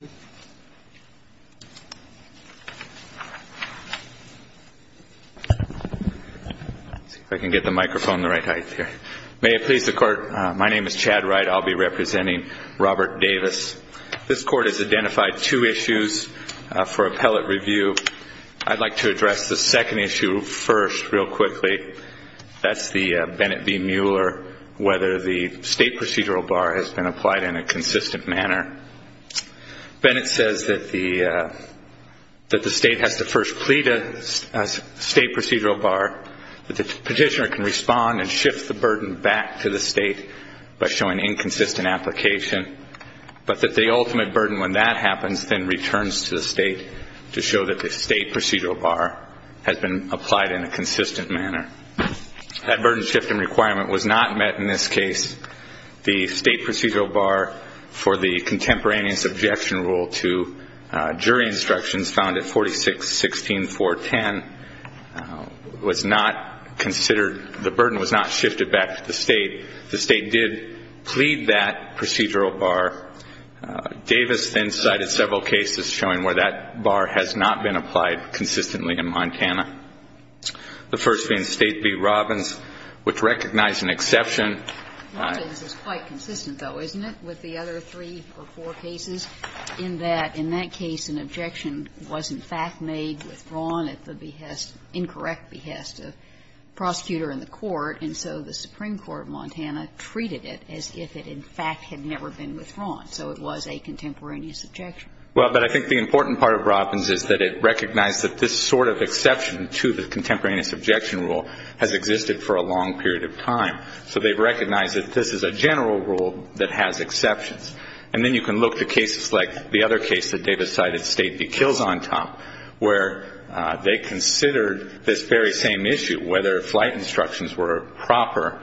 May it please the court, my name is Chad Wright, I will be representing Robert Davis. This Court has identified two issues for appellate review. I would like to address the second issue first, real quickly. That's the Bennett v. Mueller, whether the State procedural bar has been applied in a consistent manner. Bennett says that the State has to first plead a State procedural bar, that the petitioner can respond and shift the burden back to the State by showing inconsistent application, but that the ultimate burden when that happens then returns to the State to show that the State procedural bar has been applied in a consistent manner. That burden shifting requirement was not met in this case. The State procedural bar for the contemporaneous objection rule to jury instructions found at 46-16-410 was not considered, the burden was not shifted back to the State. The State did plead that procedural bar. Davis then cited several cases showing where that bar has not been applied consistently in Montana, the first being State v. Robbins, which recognized an exception. Robbins is quite consistent, though, isn't it, with the other three or four cases, in that in that case an objection was in fact made withdrawn at the behest, incorrect behest of the prosecutor in the court, and so the Supreme Court of Montana treated it as if it in fact had never been withdrawn, so it was a contemporaneous objection. Well, but I think the important part of Robbins is that it recognized that this sort of exception to the contemporaneous objection rule has existed for a long period of time, so they've recognized that this is a general rule that has exceptions. And then you can look to cases like the other case that Davis cited, State v. Kilzontop, where they considered this very same issue, whether flight instructions were proper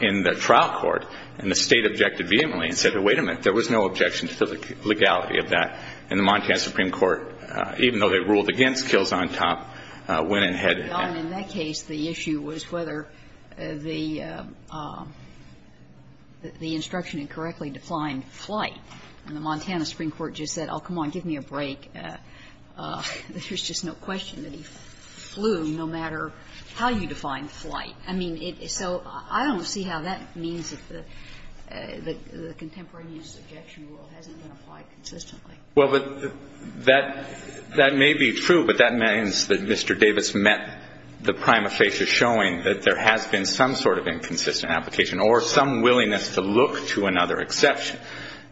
in the trial court, and the State objected vehemently and said, wait a minute, there was no objection to the legality of that. And the Montana Supreme Court, even though they ruled against Kilzontop, went ahead and had it. And in that case, the issue was whether the instruction incorrectly defined flight. And the Montana Supreme Court just said, oh, come on, give me a break. There's just no question that he flew, no matter how you define flight. I mean, so I don't see how that means that the contemporaneous objection rule hasn't been applied consistently. Well, but that may be true, but that means that Mr. Davis met the prima facie showing that there has been some sort of inconsistent application or some willingness to look to another exception.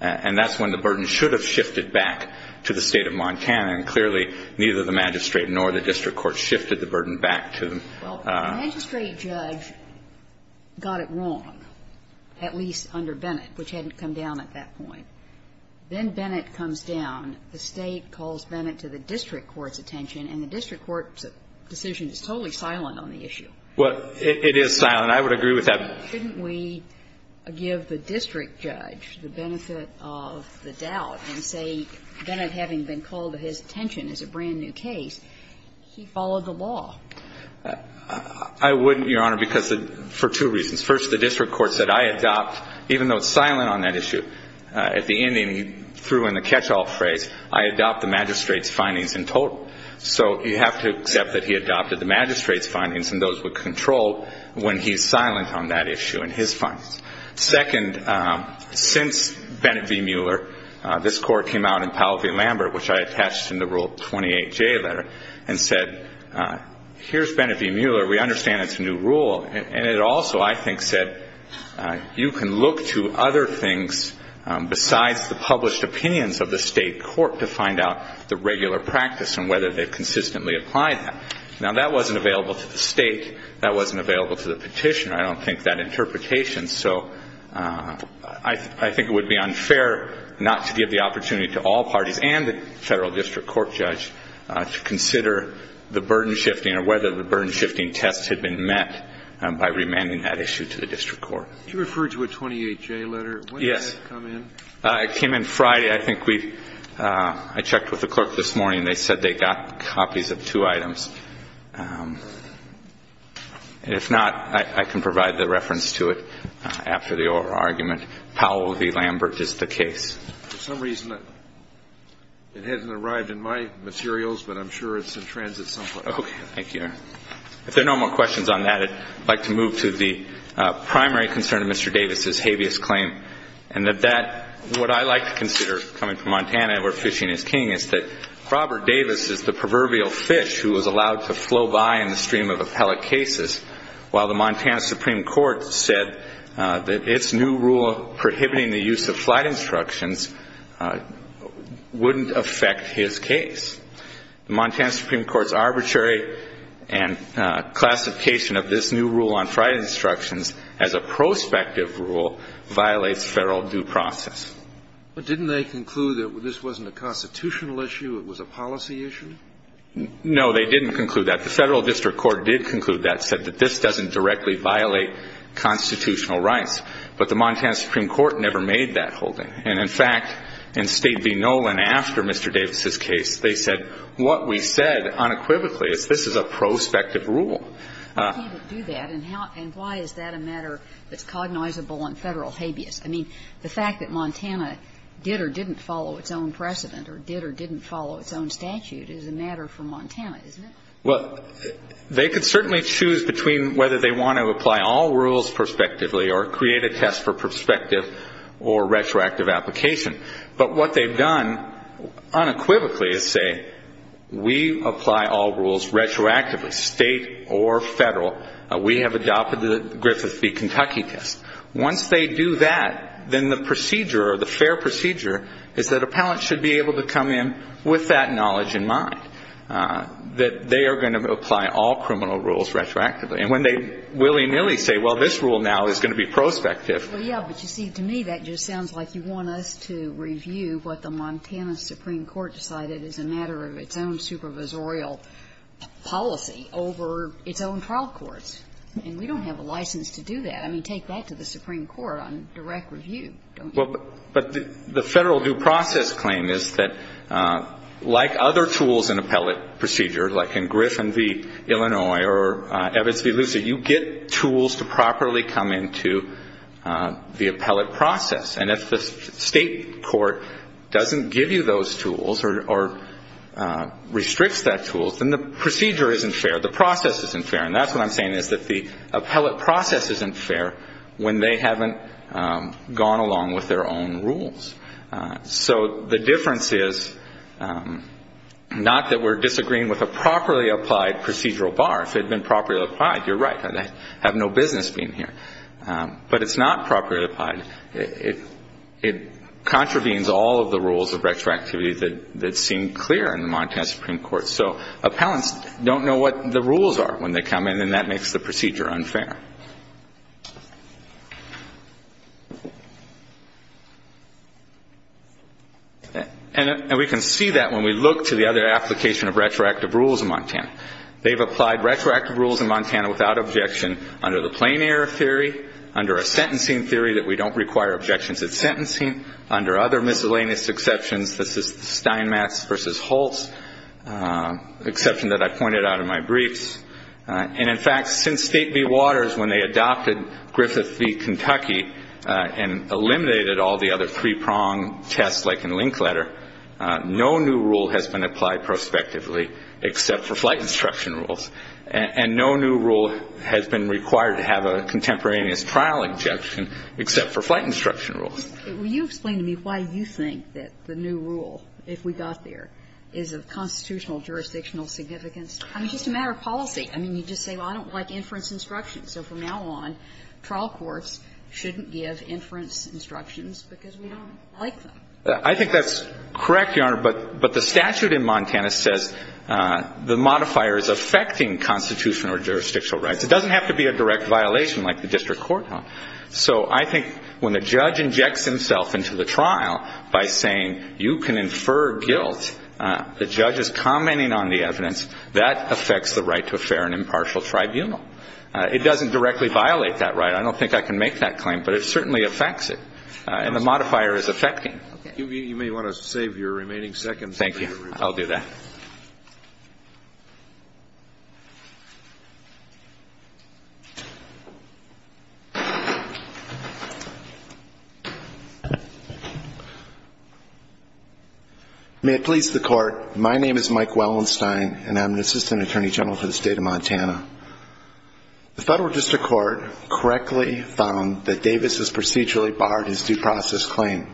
And that's when the burden should have shifted back to the State of Montana. And clearly, neither the magistrate nor the district court shifted the burden back to them. Well, the magistrate judge got it wrong, at least under Bennett, which hadn't come down at that point. Then Bennett comes down. The State calls Bennett to the district court's attention, and the district court's decision is totally silent on the issue. Well, it is silent. I would agree with that. But shouldn't we give the district judge the benefit of the doubt and say Bennett, having been called to his attention as a brand-new case, he followed the law? I wouldn't, Your Honor, for two reasons. First, the district court said, I adopt, even though it's silent on that issue, at the end, he threw in the catch-all phrase, I adopt the magistrate's findings in total. So you have to accept that he adopted the magistrate's findings and those with control when he's silent on that issue and his findings. Second, since Bennett v. Mueller, this court came out in Powell v. Lambert, which I attached in the Rule 28J letter, and said, here's Bennett v. Mueller. We understand it's a new rule. And it also, I think, said, you can look to other things besides the published opinions of the State court to find out the regular practice and whether they've consistently applied that. Now, that wasn't available to the State. That wasn't available to the petitioner. I don't think that interpretation. So I think it would be unfair not to give the opportunity to all parties and the Federal District Court judge to consider the burden-shifting or whether the burden-shifting test had been met by remanding that issue to the District Court. Kennedy. You referred to a 28J letter. When did that come in? Yes. It came in Friday. I think we've – I checked with the clerk this morning. They said they got copies of two items. And if not, I can provide the reference to it after the oral argument. Powell v. Lambert is the case. For some reason, it hasn't arrived in my materials, but I'm sure it's in transit somewhere. Thank you, Your Honor. If there are no more questions on that, I'd like to move to the primary concern of Mr. Davis' habeas claim. And that that – what I like to consider, coming from Montana where fishing is king, is that Robert Davis is the proverbial fish who was allowed to flow by in the stream of appellate cases, while the Montana Supreme Court said that its new rule prohibiting the use of flight instructions wouldn't affect his case. The Montana Supreme Court's arbitrary classification of this new rule on flight instructions as a prospective rule violates federal due process. But didn't they conclude that this wasn't a constitutional issue, it was a policy issue? No, they didn't conclude that. The Federal District Court did conclude that, said that this doesn't directly violate constitutional rights. But the Montana Supreme Court never made that holding. And, in fact, in State v. Nolan, after Mr. Davis' case, they said, what we said unequivocally is this is a prospective rule. Why can't it do that, and how – and why is that a matter that's cognizable on Federal habeas? I mean, the fact that Montana did or didn't follow its own precedent or did or didn't follow its own statute is a matter for Montana, isn't it? Well, they could certainly choose between whether they want to apply all rules prospectively or create a test for prospective or retroactive application. But what they've done unequivocally is say, we apply all rules retroactively, State or Federal. We have adopted the Griffith v. Kentucky test. Once they do that, then the procedure, or the fair procedure, is that appellants should be able to come in with that knowledge in mind, that they are going to apply all criminal rules retroactively. And when they willy-nilly say, well, this rule now is going to be prospective – Well, yeah, but you see, to me, that just sounds like you want us to review what the Montana Supreme Court decided is a matter of its own supervisorial policy over its own trial courts. And we don't have a license to do that. I mean, take that to the Supreme Court on direct review, don't you? Well, but the Federal due process claim is that, like other tools in appellate procedure, like in Griffith v. Illinois or Evans v. Lucey, you get tools to properly come into the appellate process. And if the State court doesn't give you those tools or restricts that tool, then the procedure isn't fair, the process isn't fair. And that's what I'm saying, is that the appellate process isn't fair when they haven't gone along with their own rules. So the difference is not that we're disagreeing with a properly applied procedural bar. If it had been properly applied, you're right. I'd have no business being here. But it's not properly applied. It contravenes all of the rules of retroactivity that seem clear in the Montana Supreme Court. So appellants don't know what the rules are when they come in, and that makes the procedure unfair. And we can see that when we look to the other application of retroactive rules in Montana. They've applied retroactive rules in Montana without objection under the plain error theory, under a sentencing theory that we don't require objections at sentencing, under other miscellaneous exceptions. This is Steinmetz v. Holtz, an exception that I pointed out in my briefs. And in fact, since State v. Waters, when they adopted Griffith v. Long test, like in Linkletter, no new rule has been applied prospectively except for flight instruction rules. And no new rule has been required to have a contemporaneous trial exception except for flight instruction rules. Will you explain to me why you think that the new rule, if we got there, is of constitutional jurisdictional significance? I mean, just a matter of policy. I mean, you just say, well, I don't like inference instructions. So from now on, trial courts shouldn't give inference instructions because we don't like them. I think that's correct, Your Honor. But the statute in Montana says the modifier is affecting constitutional or jurisdictional rights. It doesn't have to be a direct violation like the district courthouse. So I think when the judge injects himself into the trial by saying, you can infer guilt, the judge is commenting on the evidence. That affects the right to a fair and impartial tribunal. It doesn't directly violate that right. I don't think I can make that claim. But it certainly affects it. And the modifier is affecting. You may want to save your remaining seconds. Thank you. I'll do that. May it please the Court, my name is Mike Wellenstein, and I'm the Assistant Attorney General for the State of Montana. The federal district court correctly found that Davis was procedurally barred his due process claim.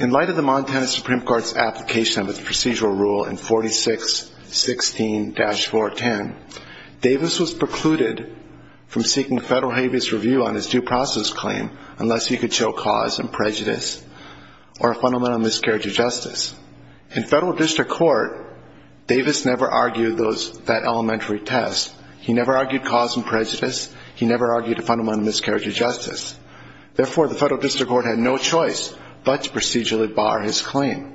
In light of the Montana Supreme Court's application of its procedural rule in 4616-410, Davis was precluded from seeking federal habeas review on his due process claim unless he could show cause and prejudice or a fundamental miscarriage of justice. In federal district court, Davis never argued that elementary test. He never argued cause and prejudice. He never argued a fundamental miscarriage of justice. Therefore, the federal district court had no choice but to procedurally bar his claim.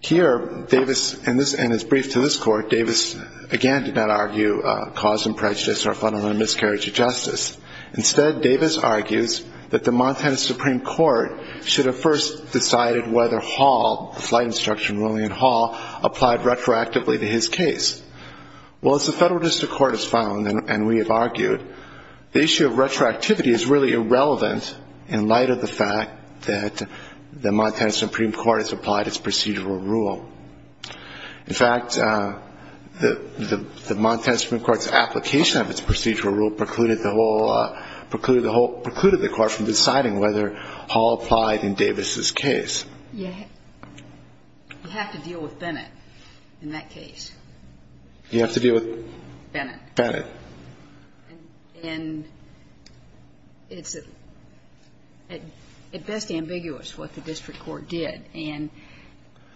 Here, Davis, in his brief to this court, Davis, again, did not argue cause and prejudice or a fundamental miscarriage of justice. Instead, Davis argues that the Montana Supreme Court should have first decided whether Hall, the flight instruction ruling in Hall, applied retroactively to his case. Well, as the federal district court has found, and we have argued, the issue of retroactivity is really irrelevant in light of the fact that the Montana Supreme Court has applied its procedural rule. In fact, the Montana Supreme Court's application of its procedural rule precluded the whole, precluded the court from deciding whether Hall applied retroactively in Davis's case. You have to deal with Bennett in that case. You have to deal with Bennett. Bennett. And it's at best ambiguous what the district court did. And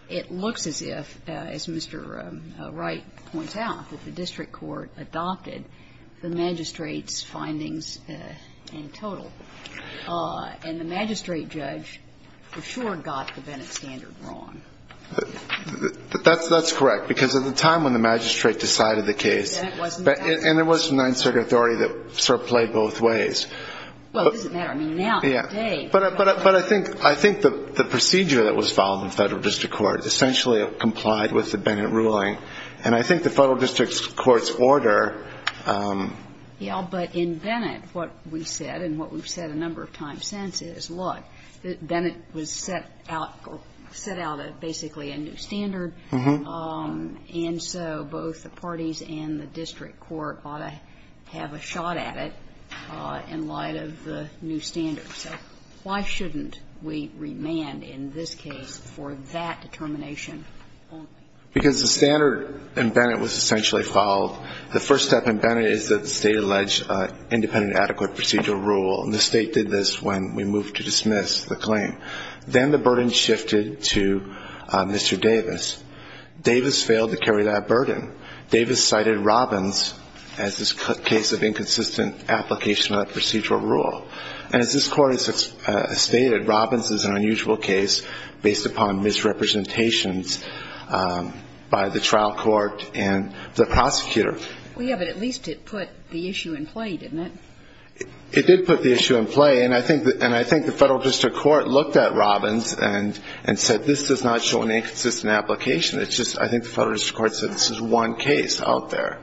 it looks as if, as Mr. Wright points out, that the district court adopted the magistrate's findings in total. And the magistrate judge for sure got the Bennett standard wrong. That's correct. Because at the time when the magistrate decided the case, and there was a ninth circuit authority that sort of played both ways. Well, it doesn't matter. I mean, now, today. But I think the procedure that was followed in the federal district court essentially complied with the Bennett ruling. And I think the federal district court's order ---- But in Bennett, what we said, and what we've said a number of times since, is, look, Bennett was set out, or set out basically a new standard, and so both the parties and the district court ought to have a shot at it in light of the new standard. So why shouldn't we remand in this case for that determination only? Because the standard in Bennett was essentially followed. The first step in Bennett is that the state allege independent adequate procedural rule, and the state did this when we moved to dismiss the claim. Then the burden shifted to Mr. Davis. Davis failed to carry that burden. Davis cited Robbins as this case of inconsistent application of procedural rule. And as this court has stated, Robbins is an unusual case based upon misrepresentations by the trial court and the prosecutor. Well, yeah, but at least it put the issue in play, didn't it? It did put the issue in play, and I think the federal district court looked at Robbins and said, this does not show an inconsistent application. It's just, I think the federal district court said, this is one case out there.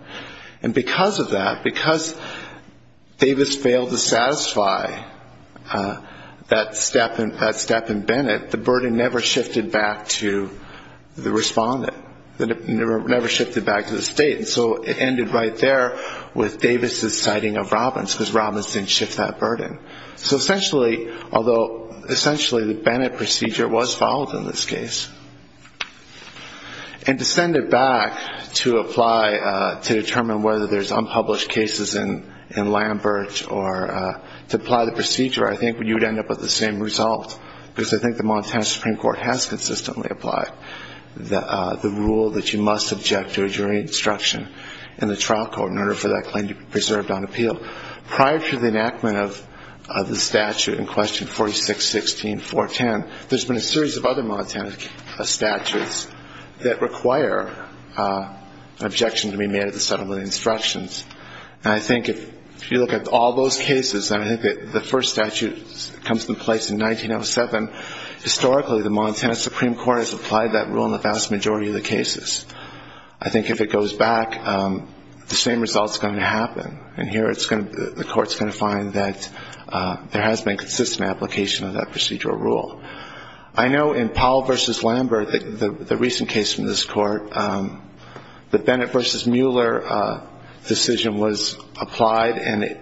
And because of that, because Davis failed to satisfy that step in Bennett, the burden never shifted back to the respondent, never shifted back to the state. And so it ended right there with Davis' citing of Robbins, because Robbins didn't shift that burden. So essentially, although essentially the Bennett procedure was followed in this case. And to send it back to apply to determine whether there's unpublished cases in Lambert or to apply the procedure, I think you'd end up with the same result. Because I think the Montana Supreme Court has consistently applied the rule that you must object to a jury instruction in the trial court in order for that claim to be preserved on appeal. Prior to the enactment of the statute in question 4616.410, there's been a series of other Montana statutes that require an objection to be made at the settlement of instructions. And I think if you look at all those cases, I think that the first statute comes into place in 1907. Historically, the Montana Supreme Court has applied that rule in the vast majority of the cases. I think if it goes back, the same result's going to happen. And here, the court's going to find that there has been consistent application of that procedural rule. I know in Powell versus Lambert, the recent case from this court, the Bennett versus Mueller decision was applied. And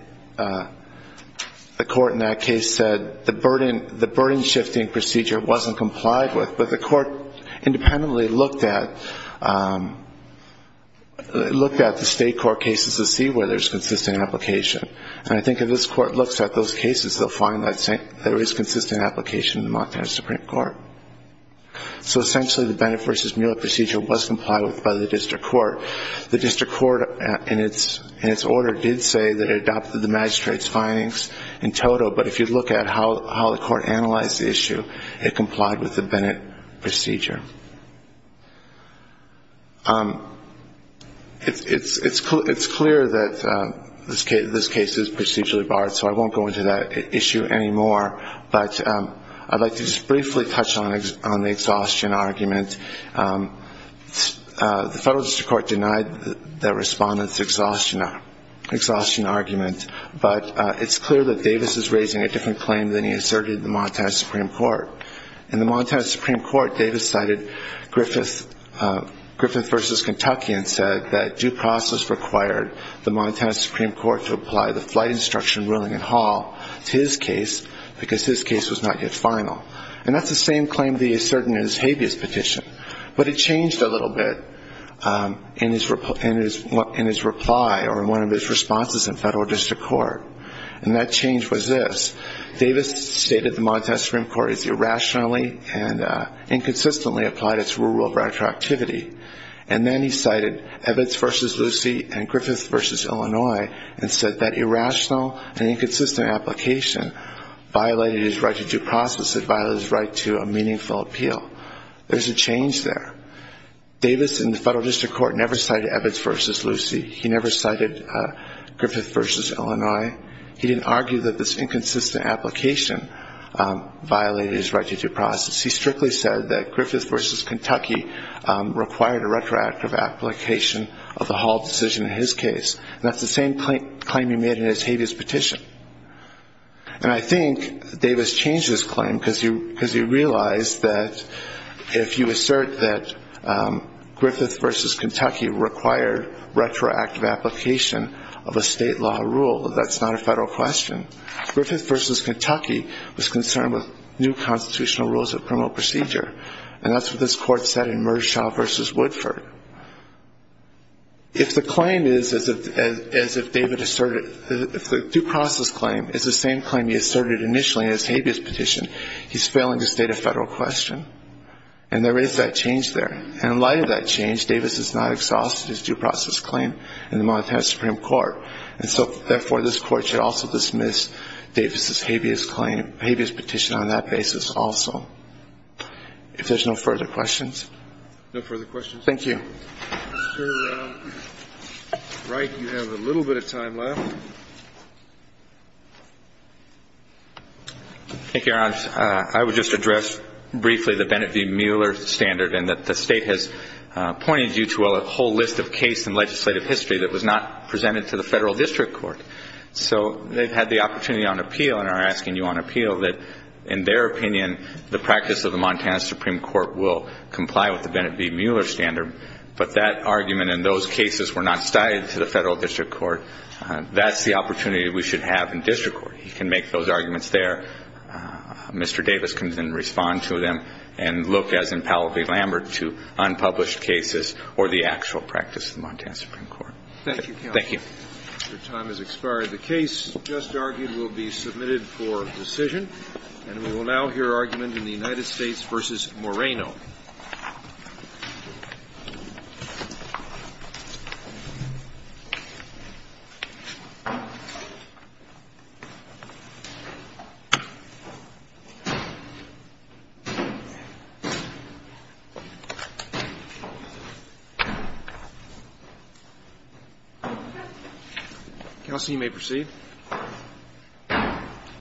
the court in that case said the burden-shifting procedure wasn't complied with. But the court independently looked at the state court cases to see whether there's consistent application. And I think if this court looks at those cases, they'll find that there is consistent application in the Montana Supreme Court. So essentially, the Bennett versus Mueller procedure was complied with by the district court. The district court in its order did say that it adopted the magistrate's findings in total. But if you look at how the court analyzed the issue, it complied with the Bennett procedure. It's clear that this case is procedurally barred, so I won't go into that issue anymore. But I'd like to just briefly touch on the exhaustion argument. The federal district court denied the respondent's exhaustion argument. But it's clear that Davis is raising a different claim than he asserted in the Montana Supreme Court. In the Montana Supreme Court, Davis cited Griffith versus Kentucky and said that due process required the Montana Supreme Court to apply the flight instruction ruling in Hall to his case because his case was not yet final. And that's the same claim he asserted in his habeas petition. But it changed a little bit in his reply or in one of his responses in federal district court. And that change was this. Davis stated the Montana Supreme Court has irrationally and inconsistently applied its rule of retroactivity. And then he cited Evitz versus Lucy and Griffith versus Illinois and said that irrational and inconsistent application violated his right to due process. It violated his right to a meaningful appeal. There's a change there. Davis in the federal district court never cited Evitz versus Lucy. He never cited Griffith versus Illinois. He didn't argue that this inconsistent application violated his right to due process. He strictly said that Griffith versus Kentucky required a retroactive application of the Hall decision in his case. And that's the same claim he made in his habeas petition. And I think Davis changed his claim because he realized that if you assert that Griffith versus Kentucky required retroactive application of a state law rule, that's not a federal question. Griffith versus Kentucky was concerned with new constitutional rules that promote procedure. And that's what this court said in Mershaw versus Woodford. If the claim is, as if David asserted, if the due process claim is the same claim he asserted initially in his habeas petition, he's failing to state a federal question. And there is that change there. And in light of that change, Davis has not exhausted his due process claim in the Montana Supreme Court. And so, therefore, this Court should also dismiss Davis's habeas claim, habeas petition on that basis also. If there's no further questions. No further questions. Thank you. Mr. Wright, you have a little bit of time left. Thank you, Your Honor. I would just address briefly the Bennett v. Mueller standard, and that the State has pointed you to a whole list of case in legislative history that was not presented to the Federal District Court. So they've had the opportunity on appeal and are asking you on appeal that, in their opinion, the practice of the Montana Supreme Court will comply with the Bennett v. Mueller standard. But that argument and those cases were not cited to the Federal District Court. That's the opportunity we should have in district court. You can make those arguments there. Mr. Davis can then respond to them and look, as in Powell v. Lambert, to unpublished cases or the actual practice of the Montana Supreme Court. Thank you, counsel. Thank you. Your time has expired. The case just argued will be submitted for decision. And we will now hear argument in the United States v. Moreno. Counsel, you may proceed.